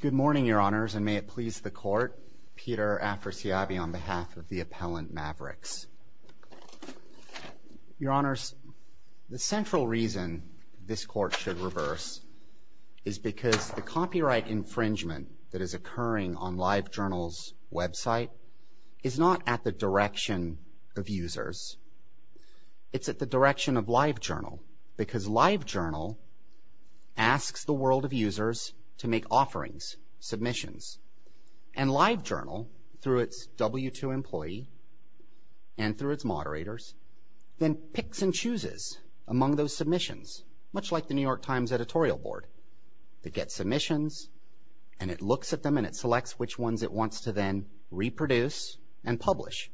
Good morning, Your Honors, and may it please the Court, Peter Afrasiabi on behalf of the appellant Mavrix. Your Honors, the central reason this Court should reverse is because the copyright infringement that is occurring on Live Journal's website is not at the direction of users. It's at the direction of Live Journal, because Live Journal asks the world of users to make offerings, submissions. And Live Journal, through its W2 employee and through its moderators, then picks and chooses among those submissions, much like the New York Times editorial board. It gets submissions, and it looks at them, and it selects which ones it wants to then reproduce and publish.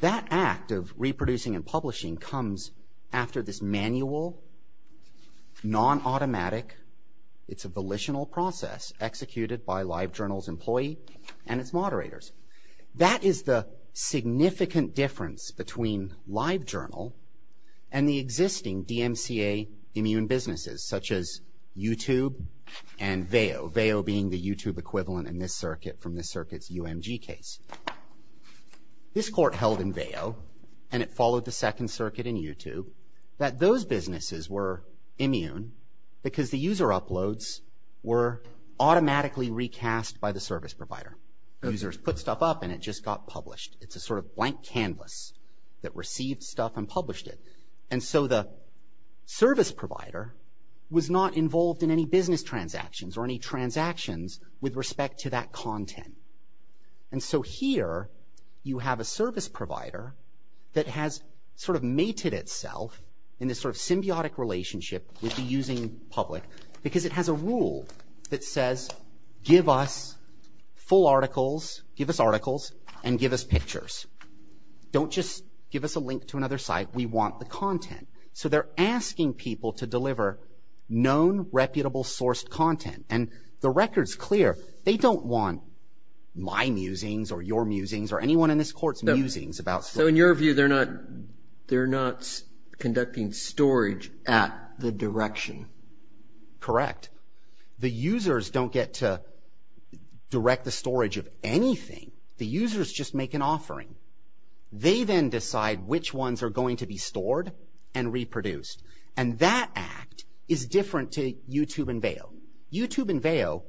That act of reproducing and publishing comes after this manual, non-automatic, it's a volitional process executed by Live Journal's employee and its moderators. That is the significant difference between Live Journal and the existing DMCA immune businesses, such as YouTube and Veo, Veo being the YouTube equivalent in this circuit from This Court held in Veo, and it followed the second circuit in YouTube, that those businesses were immune because the user uploads were automatically recast by the service provider. Users put stuff up and it just got published. It's a sort of blank canvas that received stuff and published it. And so the service provider was not involved in any business transactions or any transactions with respect to that content. And so here you have a service provider that has sort of mated itself in this sort of symbiotic relationship with the using public because it has a rule that says, give us full articles, give us articles and give us pictures. Don't just give us a link to another site. We want the content. So they're asking people to deliver known, reputable sourced content. And the record's clear. They don't want my musings or your musings or anyone in this court's musings about storage. So in your view, they're not conducting storage at the direction. Correct. The users don't get to direct the storage of anything. The users just make an offering. They then decide which ones are going to be stored and reproduced. And that act is different to YouTube and Veo. YouTube and Veo,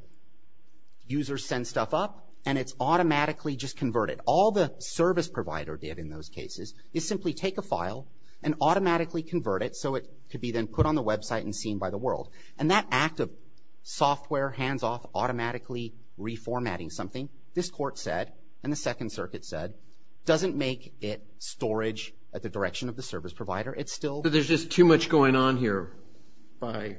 users send stuff up and it's automatically just converted. All the service provider did in those cases is simply take a file and automatically convert it so it could be then put on the website and seen by the world. And that act of software hands-off automatically reformatting something, this court said and the Second Circuit said, doesn't make it storage at the direction of the service provider. It's still... So there's just too much going on here by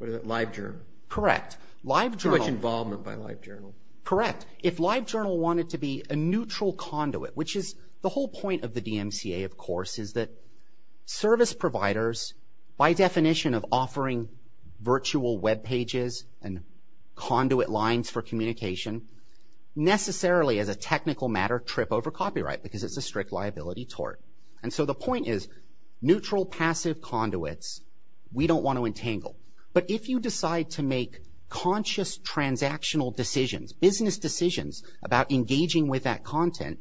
LiveJournal. Correct. Too much involvement by LiveJournal. Correct. If LiveJournal wanted to be a neutral conduit, which is the whole point of the DMCA, of course, is that service providers, by definition of offering virtual web pages and conduit lines for communication, necessarily as a technical matter, trip over copyright because it's a strict liability tort. And so the point is, neutral passive conduits, we don't want to entangle. But if you decide to make conscious transactional decisions, business decisions about engaging with that content,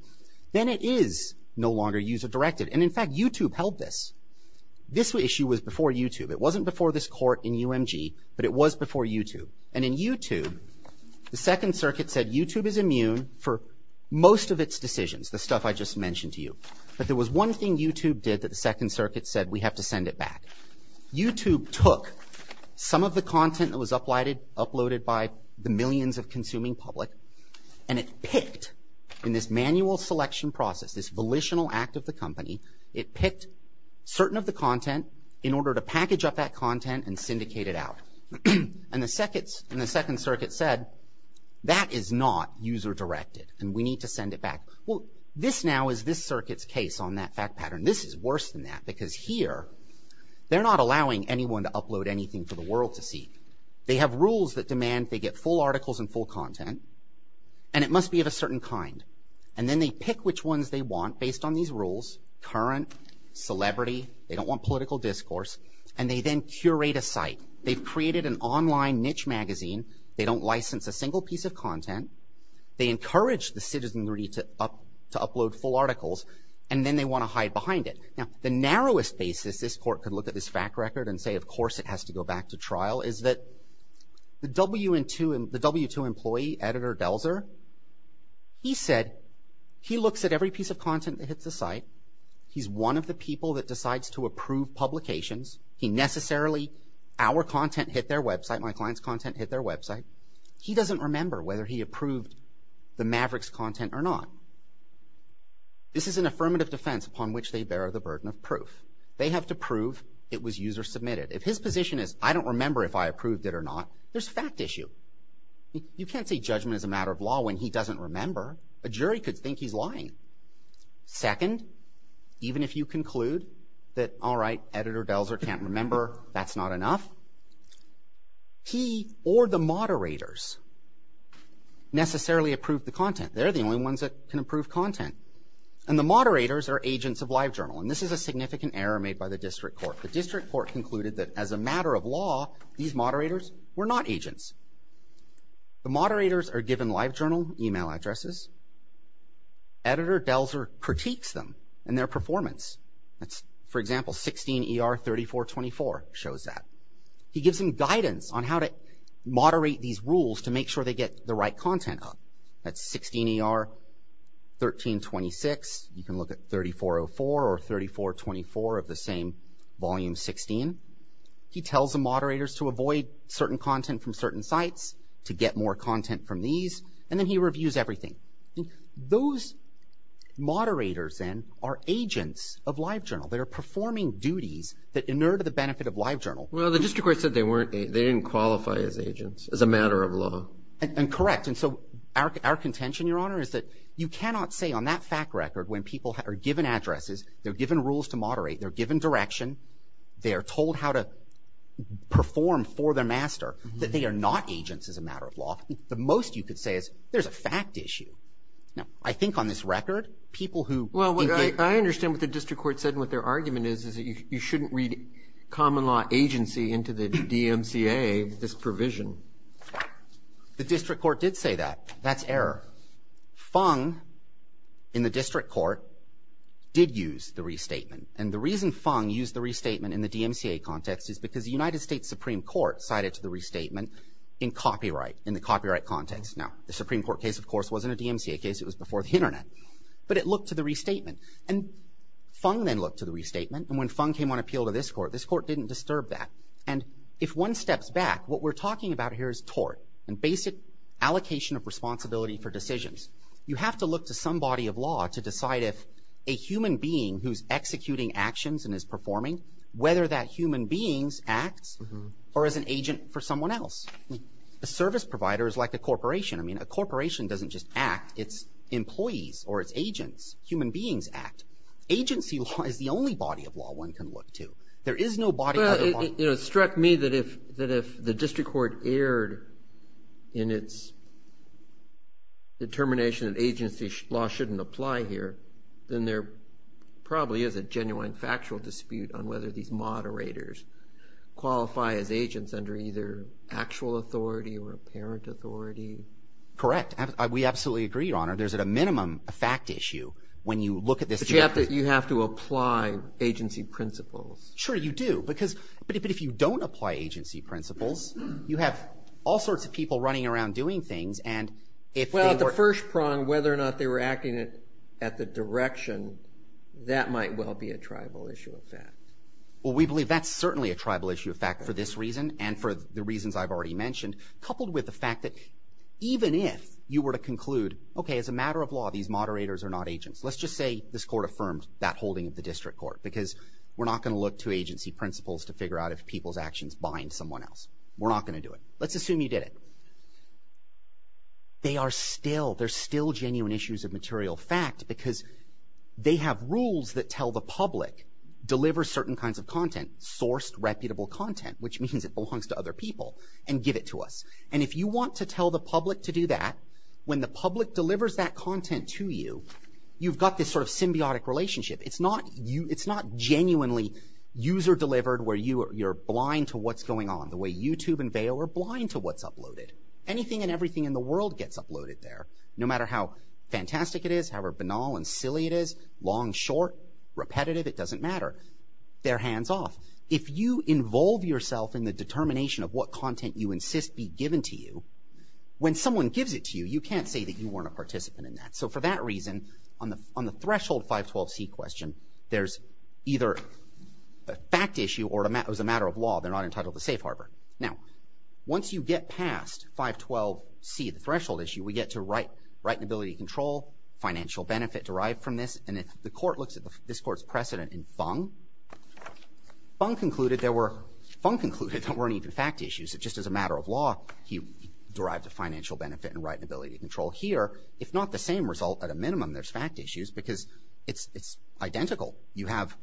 then it is no longer user-directed. And in fact, YouTube held this. This issue was before YouTube. It wasn't before this court in UMG, but it was before YouTube. And in YouTube, the Second Circuit said YouTube is immune for most of its decisions, the stuff I just mentioned to you. But there was one thing YouTube did that the Second Circuit said we have to send it back. YouTube took some of the content that was uploaded by the millions of consuming public and it picked, in this manual selection process, this volitional act of the company, it picked certain of the content in order to package up that content and syndicate it out. And the Second Circuit said that is not user-directed and we need to send it back. Well, this now is this circuit's case on that fact pattern. This is worse than that because here, they're not allowing anyone to upload anything for the world to see. They have rules that demand they get full articles and full content, and it must be of a certain kind. And then they pick which ones they want based on these rules, current, celebrity, they don't want political discourse, and they then curate a site. They've created an online niche magazine. They don't license a single piece of content. They encourage the citizenry to upload full articles, and then they want to hide behind it. Now, the narrowest basis this court could look at this fact record and say, of course, it has to go back to trial is that the W2 employee, Editor Delzer, he said, he looks at every piece of content that hits the site. He's one of the people that decides to approve publications. He necessarily, our content hit their website, my client's content hit their website. He doesn't remember whether he approved the Mavericks content or not. This is an affirmative defense upon which they bear the burden of proof. They have to prove it was user submitted. If his position is, I don't remember if I approved it or not, there's a fact issue. You can't say judgment is a matter of law when he doesn't remember. A jury could think he's lying. Second, even if you conclude that, all right, Editor Delzer can't remember, that's not enough. He or the moderators necessarily approved the content. They're the only ones that can approve content. And the moderators are agents of LiveJournal. And this is a significant error made by the district court. The district court concluded that as a matter of law, these moderators were not agents. The moderators are given LiveJournal email addresses. Editor Delzer critiques them and their performance. For example, 16 ER 3424 shows that. He gives them guidance on how to moderate these rules to make sure they get the right content up. That's 16 ER 1326. You can look at 3404 or 3424 of the same volume 16. He tells the moderators to avoid certain content from certain sites, to get more content from these, and then he reviews everything. Those moderators then are agents of LiveJournal. They are performing duties that inure to the benefit of LiveJournal. Well, the district court said they didn't qualify as agents, as a matter of law. And correct. And so our contention, Your Honor, is that you cannot say on that fact record, when people are given addresses, they're given rules to moderate, they're given direction, they're told how to perform for their master, that they are not agents as a matter of law. The most you could say is, there's a fact issue. Now, I think on this record, people who- Well, I understand what the district court said and what their argument is, is that you shouldn't read common law agency into the DMCA, this provision. The district court did say that. That's error. Fung, in the district court, did use the restatement. And the reason Fung used the restatement in the DMCA context is because the United States Supreme Court cited to the restatement in copyright, in the copyright context. Now, the Supreme Court case, of course, wasn't a DMCA case. It was before the Internet. But it looked to the restatement. And Fung then looked to the restatement. And when Fung came on appeal to this court, this court didn't disturb that. And if one steps back, what we're talking about here is tort and basic allocation of responsibility for decisions. You have to look to some body of law to decide if a human being who's executing actions and is performing, whether that human being acts or is an agent for someone else. A service provider is like a corporation. I mean, a corporation doesn't just act. It's employees or it's agents. Human beings act. Agency law is the only body of law one can look to. There is no body of other law. It struck me that if the district court erred in its determination that agency law shouldn't apply here, then there probably is a genuine factual dispute on whether these moderators qualify as agents under either actual authority or apparent authority. Correct. We absolutely agree, Your Honor. There's at a minimum a fact issue when you look at this. But you have to apply agency principles. Sure, you do. But if you don't apply agency principles, you have all sorts of people running around doing things. Well, at the first prong, whether or not they were acting at the direction, that might well be a tribal issue of fact. Well, we believe that's certainly a tribal issue of fact for this reason and for the reasons I've already mentioned, coupled with the fact that even if you were to conclude, okay, as a matter of law, these moderators are not agents. Let's just say this court affirmed that holding of the district court because we're not going to look to agency principles to figure out if people's actions bind someone else. We're not going to do it. Let's assume you did it. They are still, they're still genuine issues of material fact because they have rules that tell the public deliver certain kinds of content, sourced reputable content, which means it belongs to other people, and give it to us. And if you want to tell the public to do that, when the public delivers that content to you, you've got this sort of symbiotic relationship. It's not genuinely user delivered where you're blind to what's going on, the way YouTube and Vail are blind to what's uploaded. Anything and everything in the world gets uploaded there, no matter how fantastic it is, however banal and silly it is, long, short, repetitive, it doesn't matter. They're hands off. If you involve yourself in the determination of what content you insist be given to you, when someone gives it to you, you can't say that you weren't a participant in that. So for that reason, on the threshold 512C question, there's either a fact issue or as a matter of law, they're not entitled to safe harbor. Now, once you get past 512C, the threshold issue, we get to right and ability to control, financial benefit derived from this, and the court looks at this court's precedent in Fung. Fung concluded there were, Fung concluded there weren't even fact issues. It just as a matter of law, he derived a financial benefit and right and ability to control. Here, if not the same result, at a minimum, there's fact issues because it's identical. You have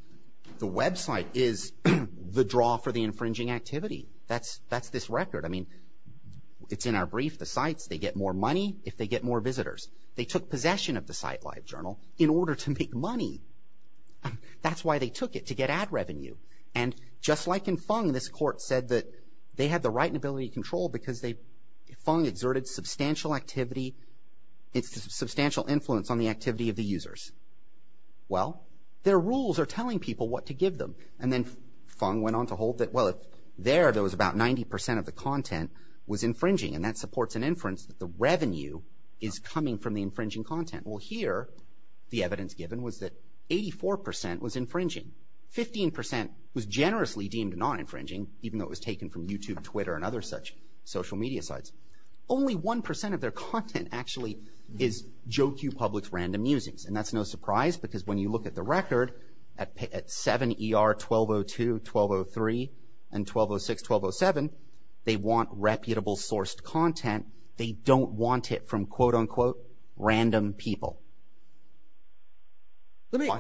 the website is the draw for the infringing activity. That's this record. I mean, it's in our brief, the sites, they get more money if they get more visitors. They took possession of the site, LiveJournal, in order to make money. That's why they took it, to get ad revenue. And just like in Fung, this court said that they had the right and ability to control because they, Fung exerted substantial activity, substantial influence on the activity of the users. Well, their rules are telling people what to give them. And then Fung went on to hold that, well, there, there was about 90% of the content was infringing, and that supports an inference that the revenue is coming from the infringing content. Well, here, the evidence given was that 84% was infringing. Fifteen percent was generously deemed non-infringing, even though it was taken from YouTube, Twitter, and other such social media sites. Only 1% of their content actually is Joe Q. Public's random musings, and that's no surprise because when you look at the record, at 7 ER 1202, 1203, and 1206, 1207, they want reputable sourced content. They don't want it from, quote, unquote, random people. Let me,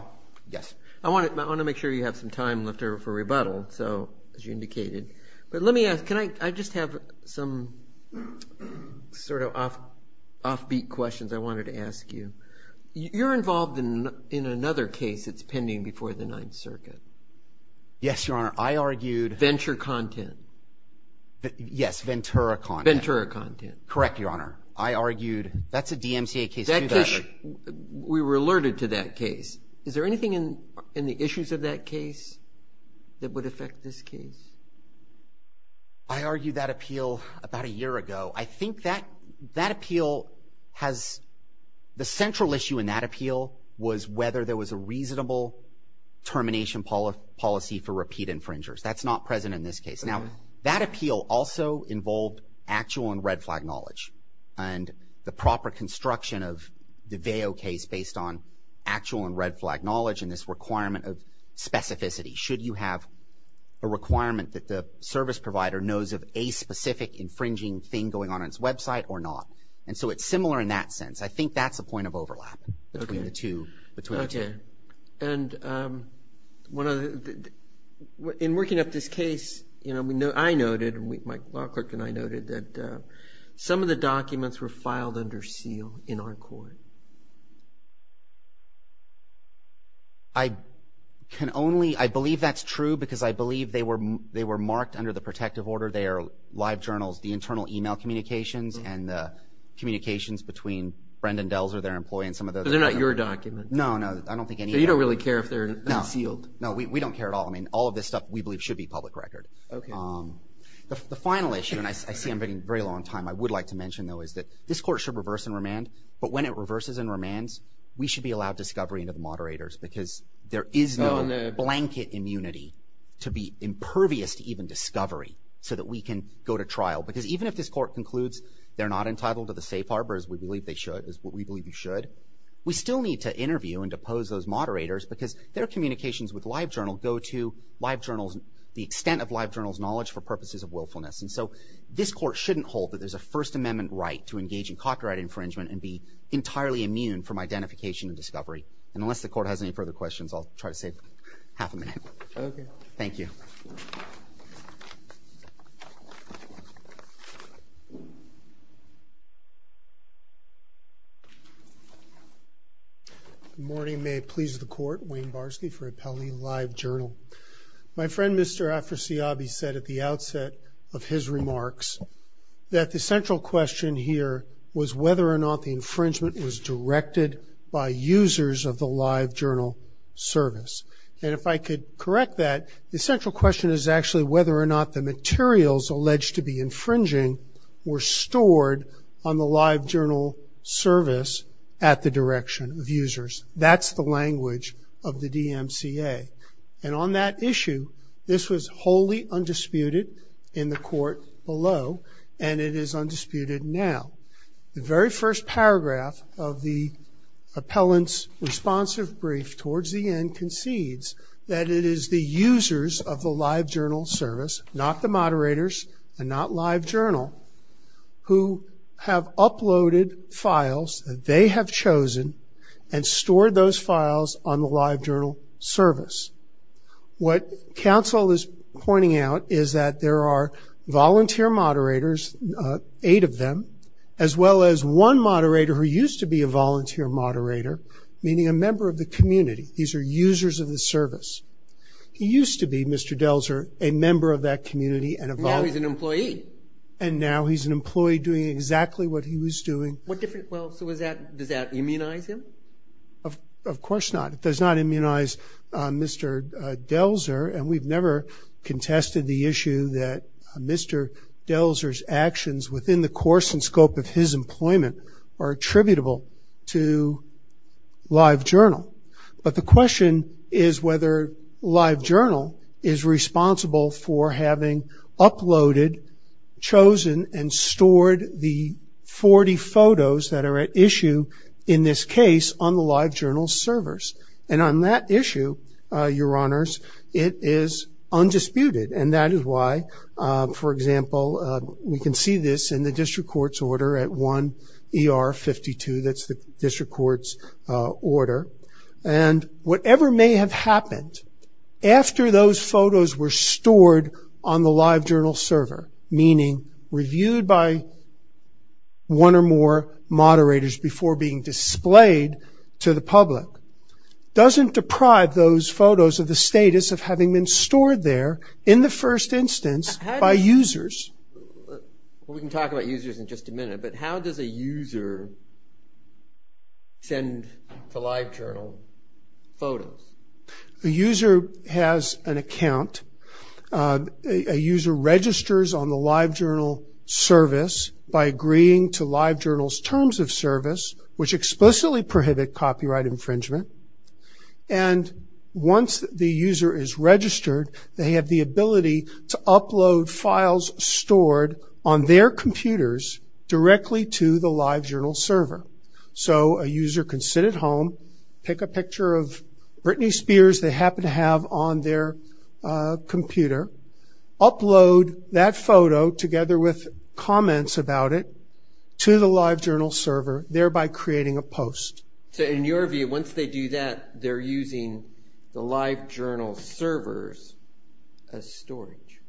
yes. I want to, I want to make sure you have some time left over for rebuttal, so, as you indicated. But let me ask, can I, I just have some sort of off, offbeat questions I wanted to ask you. You're involved in, in another case that's pending before the Ninth Circuit. Yes, Your Honor, I argued. Venture content. Yes, Ventura content. Ventura content. Correct, Your Honor. I argued. That's a DMCA case too, by the way. We were alerted to that case. Is there anything in, in the issues of that case that would affect this case? I argued that appeal about a year ago. I think that, that appeal has, the central issue in that appeal was whether there was a reasonable termination policy for repeat infringers. That's not present in this case. Now, that appeal also involved actual and red flag knowledge. And the proper construction of the Veo case based on actual and red flag knowledge and this requirement of specificity. Should you have a requirement that the service provider knows of a specific infringing thing going on in its website or not? And so, it's similar in that sense. I think that's a point of overlap between the two, between the two. Okay. And one of the, in working up this case, you know, we know, I noted, Mike Lockrook and I noted that some of the documents were filed under seal in our court. I can only, I believe that's true because I believe they were, they were marked under the protective order. They are live journals, the internal email communications and the communications between Brendon Dells or their employee and some of those. So, they're not your documents? No, no. I don't think any of them. So, you don't really care if they're sealed? No. No. We don't care at all. I mean, all of this stuff we believe should be public record. Okay. The final issue, and I see I'm getting very long time, I would like to mention though is that this court should reverse and remand, but when it reverses and remands, we should be allowed discovery into the moderators because there is no blanket immunity to be impervious to even discovery so that we can go to trial because even if this court concludes they're not entitled to the safe harbor as we believe they should, as what we believe you should, we still need to interview and depose those moderators because their communications with LiveJournal go to LiveJournal's, the extent of LiveJournal's knowledge for purposes of willfulness. And so, this court shouldn't hold that there's a First Amendment right to engage in copyright infringement and be entirely immune from identification and discovery. And unless the court has any further questions, I'll try to save half a minute. Okay. Thank you. Good morning. May it please the court. Wayne Barsky for Appellee LiveJournal. My friend Mr. Afrasiabi said at the outset of his remarks that the central question here was whether or not the infringement was directed by users of the LiveJournal service and if I could correct that, the central question is actually whether or not the materials alleged to be infringing were stored on the LiveJournal service at the direction of users. That's the language of the DMCA. And on that issue, this was wholly undisputed in the court below and it is undisputed now. The very first paragraph of the appellant's responsive brief towards the end concedes that it is the users of the LiveJournal service, not the moderators and not LiveJournal, who have uploaded files that they have chosen and stored those files on the LiveJournal service. What counsel is pointing out is that there are volunteer moderators, eight of them, as well as one moderator who used to be a volunteer moderator, meaning a member of the community. These are users of the service. He used to be, Mr. Delzer, a member of that community and a volunteer. Now he's an employee. And now he's an employee doing exactly what he was doing. What different, well, so is that, does that immunize him? Of course not. It does not immunize Mr. Delzer and we've never contested the issue that Mr. Delzer's actions within the course and scope of his employment are attributable to LiveJournal. But the question is whether LiveJournal is responsible for having uploaded, chosen and photos that are at issue in this case on the LiveJournal servers. And on that issue, your honors, it is undisputed and that is why, for example, we can see this in the district court's order at 1 ER 52, that's the district court's order. And whatever may have happened after those photos were stored on the LiveJournal server, meaning reviewed by one or more moderators before being displayed to the public, doesn't deprive those photos of the status of having been stored there in the first instance by users. We can talk about users in just a minute, but how does a user send to LiveJournal photos? A user has an account. A user registers on the LiveJournal service by agreeing to LiveJournal's terms of service, which explicitly prohibit copyright infringement. And once the user is registered, they have the ability to upload files stored on their computers directly to the LiveJournal server. So a user can sit at home, pick a picture of Britney Spears they happen to have on their computer, upload that photo together with comments about it to the LiveJournal server, thereby creating a post. So in your view, once they do that, they're using the LiveJournal servers as storage?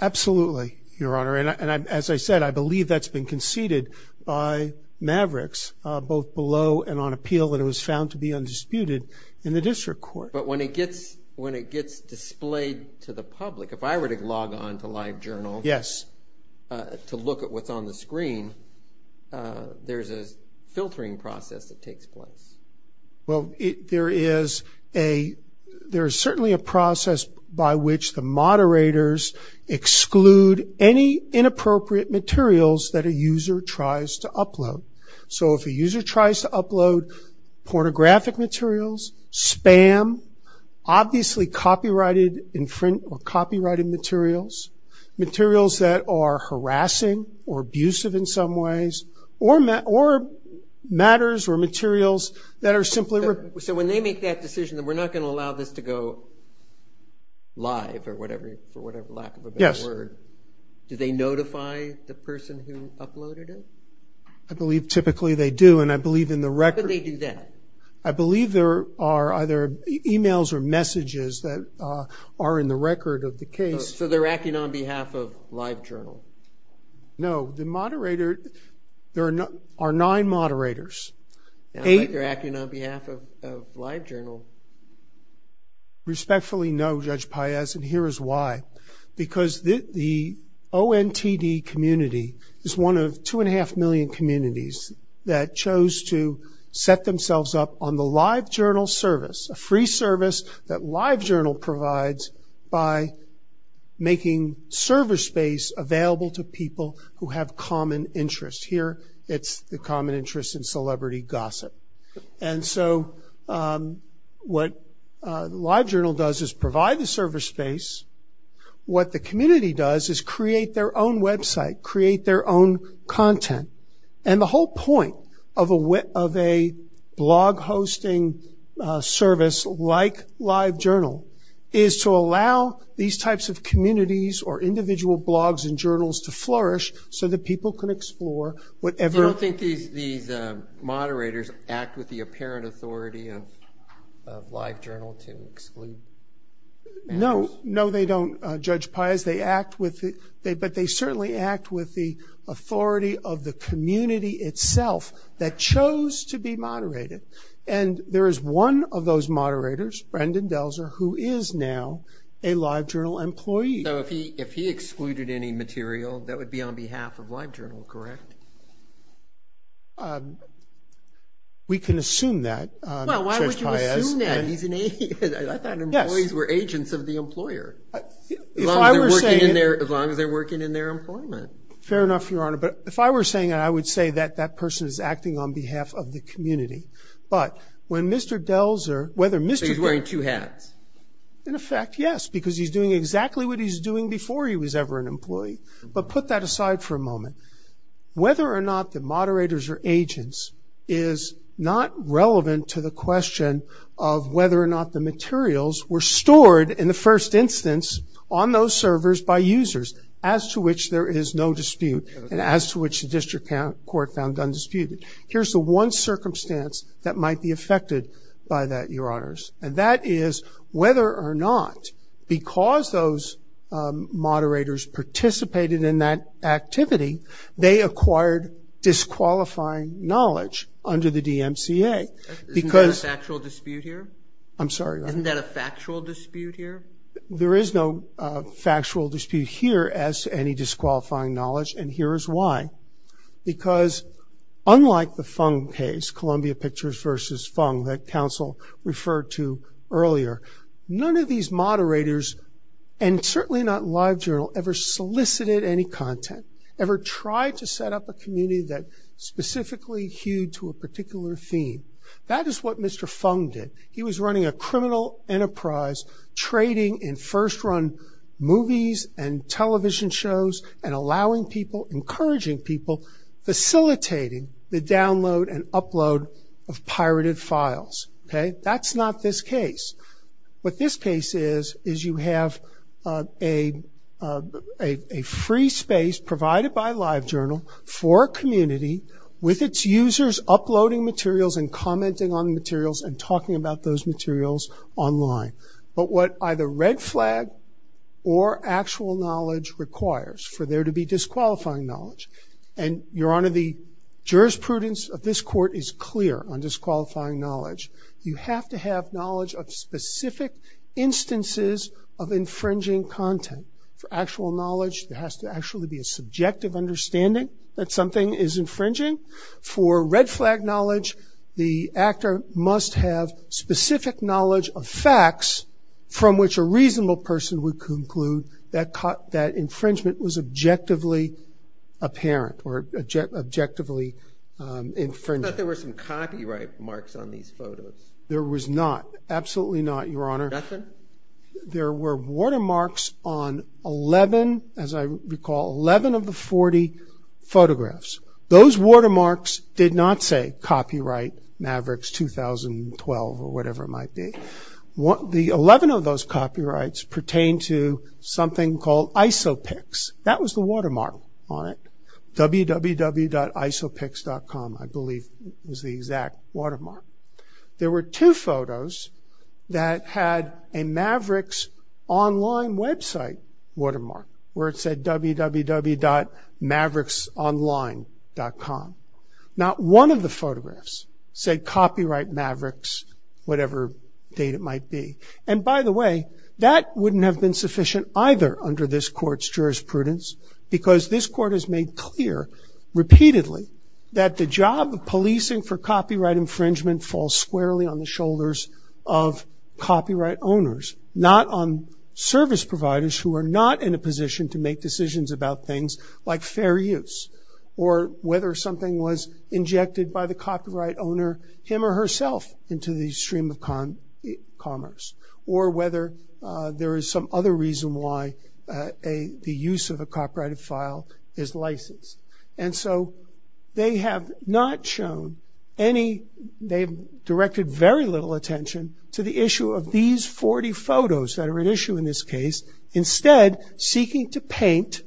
Absolutely, Your Honor. And as I said, I believe that's been conceded by Mavericks, both below and on appeal, and it was found to be undisputed in the district court. But when it gets displayed to the public, if I were to log on to LiveJournal to look at what's on the screen, there's a filtering process that takes place. Well there is certainly a process by which the moderators exclude any inappropriate materials that a user tries to upload. So if a user tries to upload pornographic materials, spam, obviously copyrighted materials, materials that are harassing or abusive in some ways, or matters or materials that are simply... So when they make that decision that we're not going to allow this to go live or whatever, for whatever lack of a better word, do they notify the person who uploaded it? I believe typically they do, and I believe in the record... How could they do that? I believe there are either emails or messages that are in the record of the case. So they're acting on behalf of LiveJournal? No, the moderator... There are nine moderators. Eight are acting on behalf of LiveJournal. Respectfully no, Judge Páez, and here is why. Because the ONTD community is one of two and a half million communities that chose to set making server space available to people who have common interests. Here it's the common interest in celebrity gossip. And so what LiveJournal does is provide the server space. What the community does is create their own website, create their own content. And the whole point of a blog hosting service like LiveJournal is to allow these types of communities or individual blogs and journals to flourish so that people can explore whatever... So you don't think these moderators act with the apparent authority of LiveJournal to exclude? No, no they don't, Judge Páez. But they certainly act with the authority of the community itself that chose to be moderated. And there is one of those moderators, Brendan Delzer, who is now a LiveJournal employee. So if he excluded any material, that would be on behalf of LiveJournal, correct? We can assume that, Judge Páez. Well, why would you assume that? He's an agent. I thought employees were agents of the employer. As long as they're working in their employment. Fair enough, Your Honor. But if I were saying that, I would say that that person is acting on behalf of the community. But when Mr. Delzer... So he's wearing two hats? In effect, yes. Because he's doing exactly what he was doing before he was ever an employee. But put that aside for a moment. Whether or not the moderators are agents is not relevant to the question of whether or not the materials were stored in the first instance on those servers by users, as to which there is no dispute, and as to which the district court found undisputed. Here's the one circumstance that might be affected by that, Your Honors. And that is whether or not, because those moderators participated in that activity, they acquired disqualifying knowledge under the DMCA. Isn't that a factual dispute here? I'm sorry, what? Isn't that a factual dispute here? There is no factual dispute here as to any disqualifying knowledge, and here is why. Because unlike the Fung case, Columbia Pictures versus Fung, that counsel referred to earlier, none of these moderators, and certainly not LiveJournal, ever solicited any content, ever tried to set up a community that specifically hewed to a particular theme. That is what Mr. Fung did. He was running a criminal enterprise, trading in first run movies and television shows, and allowing people, encouraging people, facilitating the download and upload of pirated files. That's not this case. What this case is, is you have a free space provided by LiveJournal for a community with its users uploading materials and commenting on materials and talking about those materials online. But what either red flag or actual knowledge requires for there to be disqualifying knowledge, and Your Honor, the jurisprudence of this court is clear on disqualifying knowledge. You have to have knowledge of specific instances of infringing content. For actual knowledge, there has to actually be a subjective understanding that something is infringing. For red flag knowledge, the actor must have specific knowledge of facts from which a reasonable person would conclude that infringement was objectively apparent or objectively infringing. I thought there were some copyright marks on these photos. There was not, absolutely not, Your Honor. Nothing? There were watermarks on 11, as I recall, 11 of the 40 photographs. Those watermarks did not say copyright Mavericks 2012 or whatever it might be. The 11 of those copyrights pertain to something called IsoPix. That was the watermark on it, www.isopix.com, I believe was the exact watermark. There were two photos that had a Mavericks online website watermark, where it said www.mavericksonline.com. Not one of the photographs said copyright Mavericks, whatever date it might be. And by the way, that wouldn't have been sufficient either under this court's jurisprudence, because this court has made clear repeatedly that the job of policing for copyright infringement falls squarely on the shoulders of copyright owners, not on service providers who are not in a position to make decisions about things like fair use, or whether something was injected by the copyright owner, him or herself, into the stream of commerce, or whether there is some other reason why the use of a copyrighted file is licensed. And so they have not shown any, they have directed very little attention to the issue of these 40 photos that are at issue in this case, instead seeking to paint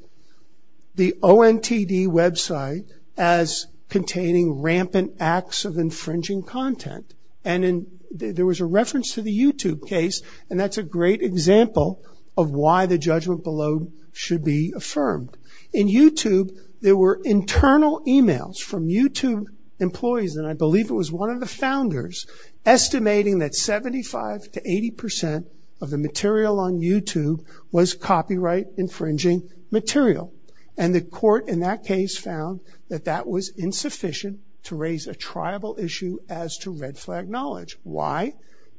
the ONTD website as containing rampant acts of infringing content. And there was a reference to the YouTube case, and that's a great example of why the judgment below should be affirmed. In YouTube, there were internal emails from YouTube employees, and I believe it was one of the founders, estimating that 75 to 80 percent of the material on YouTube was copyright infringing material. And the court in that case found that that was insufficient to raise a triable issue as to red flag knowledge. Why?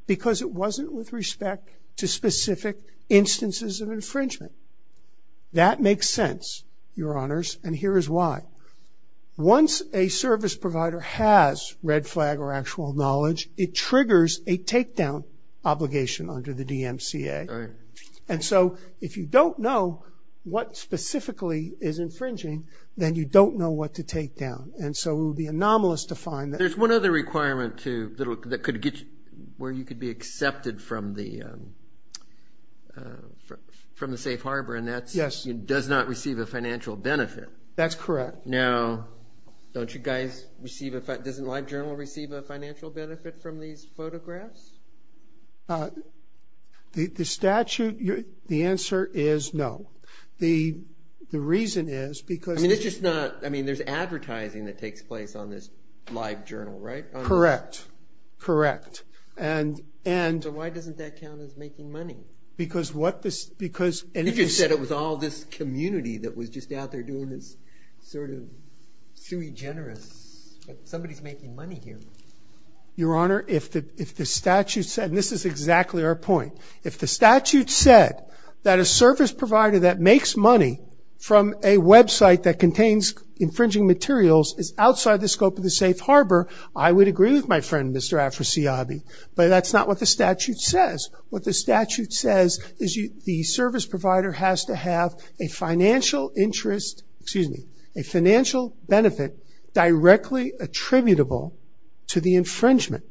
Because it wasn't with respect to specific instances of infringement. That makes sense, Your Honors, and here is why. Once a service provider has red flag or actual knowledge, it triggers a takedown obligation under the DMCA. And so if you don't know what specifically is infringing, then you don't know what to takedown. And so it would be anomalous to find that. There's one other requirement to, that could get you, where you could be accepted from the Safe Harbor, and that does not receive a financial benefit. That's correct. Now, don't you guys receive a, doesn't LiveJournal receive a financial benefit from these photographs? The statute, the answer is no. The reason is because- I mean, it's just not, I mean, there's advertising that takes place on this LiveJournal, right? Correct. Correct. And- So why doesn't that count as making money? Because what this, because- You just said it was all this community that was just out there doing this sort of sui generis. Somebody's making money here. Your Honor, if the statute said, and this is exactly our point, if the statute said that a service provider that makes money from a website that contains infringing materials is outside the scope of the Safe Harbor, I would agree with my friend, Mr. Afrasiabi. But that's not what the statute says. What the statute says is the service provider has to have a financial interest, excuse me, a financial benefit directly attributable to the infringement.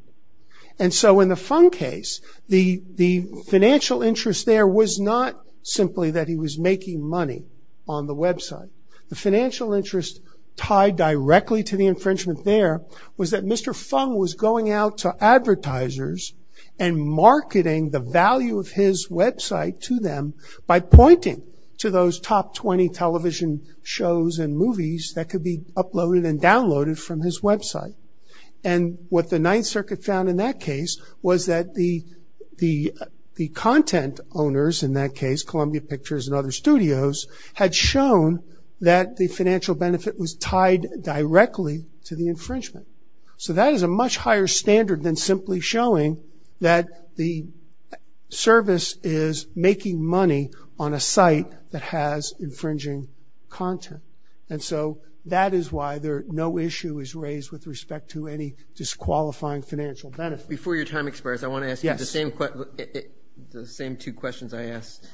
And so in the Fung case, the financial interest there was not simply that he was making money on the website. The financial interest tied directly to the infringement there was that Mr. Fung was going out to advertisers and marketing the value of his website to them by pointing to those top 20 television shows and movies that could be uploaded and downloaded from his website. And what the Ninth Circuit found in that case was that the content owners, in that case Columbia Pictures and other studios, had shown that the financial benefit was tied directly to the infringement. So that is a much higher standard than simply showing that the service is making money on a site that has infringing content. And so that is why no issue is raised with respect to any disqualifying financial benefit. Before your time expires, I want to ask you the same two questions I asked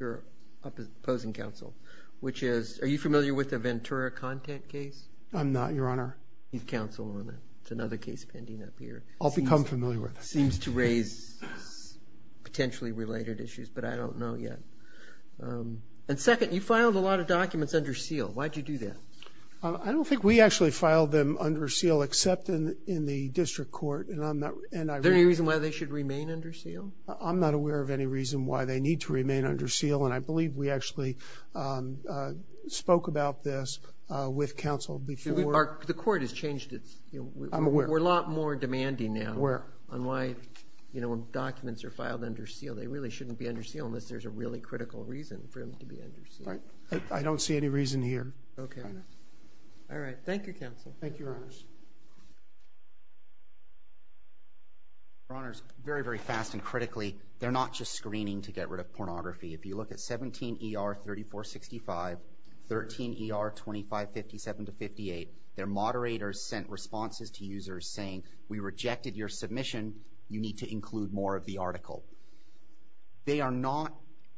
your opposing counsel, which is, are you familiar with the Ventura content case? I'm not, your honor. He's counsel on it. It's another case pending up here. I'll become familiar with it. Seems to raise potentially related issues, but I don't know yet. And second, you filed a lot of documents under seal. Why did you do that? I don't think we actually filed them under seal except in the district court. Is there any reason why they should remain under seal? I'm not aware of any reason why they need to remain under seal, and I believe we actually spoke about this with counsel before. The court has changed its, we're a lot more demanding now on why, you know, when documents are filed under seal, they really shouldn't be under seal unless there's a really critical reason for them to be under seal. I don't see any reason here. Okay. All right. Thank you, counsel. Thank you, your honors. Your honors, very, very fast and critically, they're not just screening to get rid of pornography. If you look at 17 ER 3465, 13 ER 2557 to 58, their moderators sent responses to users saying, we rejected your submission, you need to include more of the article. They are not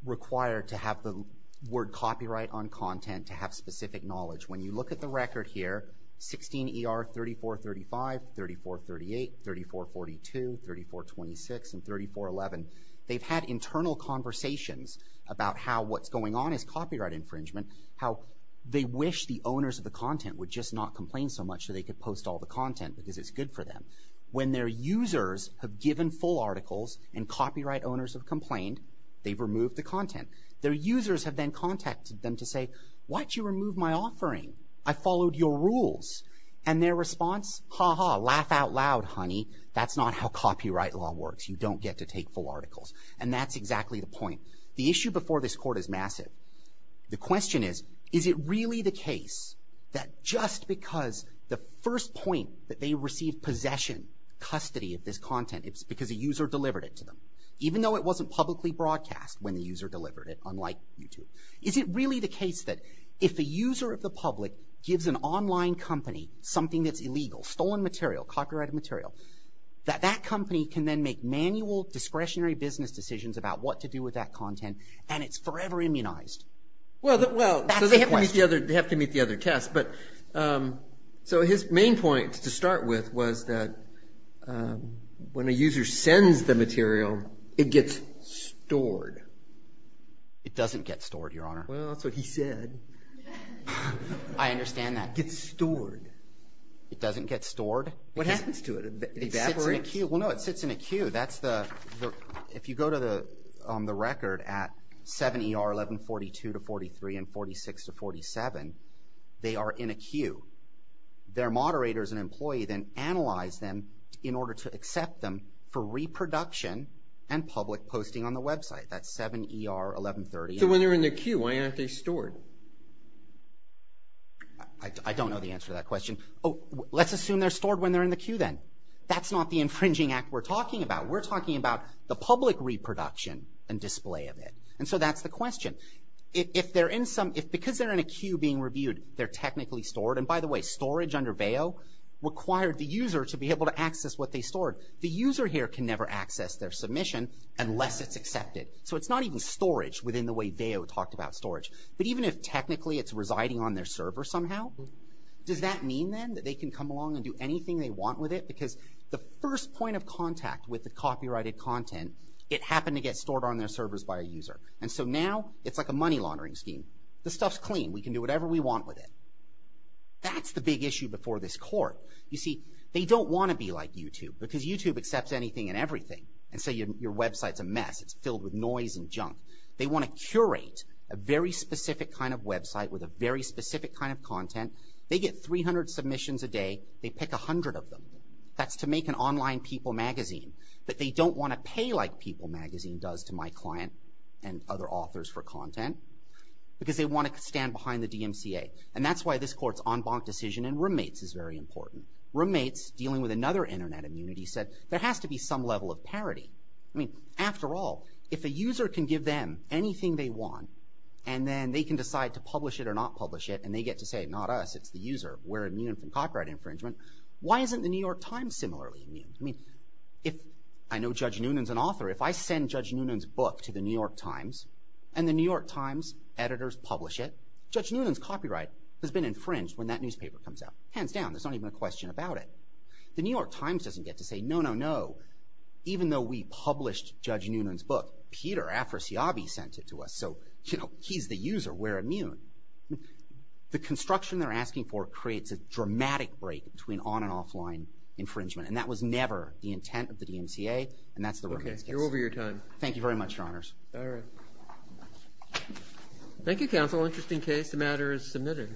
required to have the word copyright on content to have specific knowledge. When you look at the record here, 16 ER 3435, 3438, 3442, 3426, and 3411, they've had internal conversations about how what's going on is copyright infringement, how they wish the owners of the content would just not complain so much that they could post all the content because it's good for them. When their users have given full articles and copyright owners have complained, they've removed the content. Their users have then contacted them to say, why'd you remove my offering? I followed your rules. And their response, ha ha, laugh out loud, honey. That's not how copyright law works. You don't get to take full articles. And that's exactly the point. The issue before this court is massive. The question is, is it really the case that just because the first point that they received possession, custody of this content, it's because a user delivered it to them, even though it wasn't publicly broadcast when the user delivered it, unlike YouTube? Is it really the case that if a user of the public gives an online company something that's illegal, stolen material, copyrighted material, that that company can then make manual discretionary business decisions about what to do with that content, and it's forever immunized? Well, they have to meet the other test. So his main point to start with was that when a user sends the material, it gets stored. It doesn't get stored, Your Honor. Well, that's what he said. I understand that. It gets stored. It doesn't get stored. What happens to it? It evaporates? Well, no, it sits in a queue. That's the – if you go to the record at 7ER 1142-43 and 46-47, they are in a queue. Their moderators and employee then analyze them in order to accept them for reproduction and public posting on the website. That's 7ER 1138. So when they're in the queue, why aren't they stored? I don't know the answer to that question. Oh, let's assume they're stored when they're in the queue then. That's not the infringing act we're talking about. We're talking about the public reproduction and display of it. And so that's the question. If they're in some – because they're in a queue being reviewed, they're technically stored. And by the way, storage under BAO required the user to be able to access what they stored. The user here can never access their submission unless it's accepted. So it's not even storage within the way BAO talked about storage, but even if technically it's residing on their server somehow, does that mean then that they can come along and do anything they want with it? Because the first point of contact with the copyrighted content, it happened to get stored on their servers by a user. And so now it's like a money laundering scheme. The stuff's clean. We can do whatever we want with it. That's the big issue before this court. You see, they don't want to be like YouTube because YouTube accepts anything and everything. And so your website's a mess. It's filled with noise and junk. They want to curate a very specific kind of website with a very specific kind of content. They get 300 submissions a day. They pick 100 of them. That's to make an online people magazine that they don't want to pay like People Magazine does to my client and other authors for content because they want to stand behind the DMCA. And that's why this court's en banc decision in roommates is very important. Roommates, dealing with another internet immunity, said there has to be some level of parity. I mean, after all, if a user can give them anything they want and then they can decide to publish it or not publish it and they get to say, not us, it's the user, we're immune from copyright infringement, why isn't the New York Times similarly immune? I mean, if I know Judge Noonan's an author, if I send Judge Noonan's book to the New York Times and the New York Times editors publish it, Judge Noonan's copyright has been infringed when that newspaper comes out. Hands down. There's not even a question about it. The New York Times doesn't get to say, no, no, no, even though we published Judge Noonan's book, Peter Afrasiabi sent it to us, so, you know, he's the user, we're immune. The construction they're asking for creates a dramatic break between on and offline infringement. And that was never the intent of the DMCA and that's the Roommates case. Okay, you're over your time. Thank you very much, Your Honors. All right. Thank you, Counsel. Interesting case. The matter is submitted.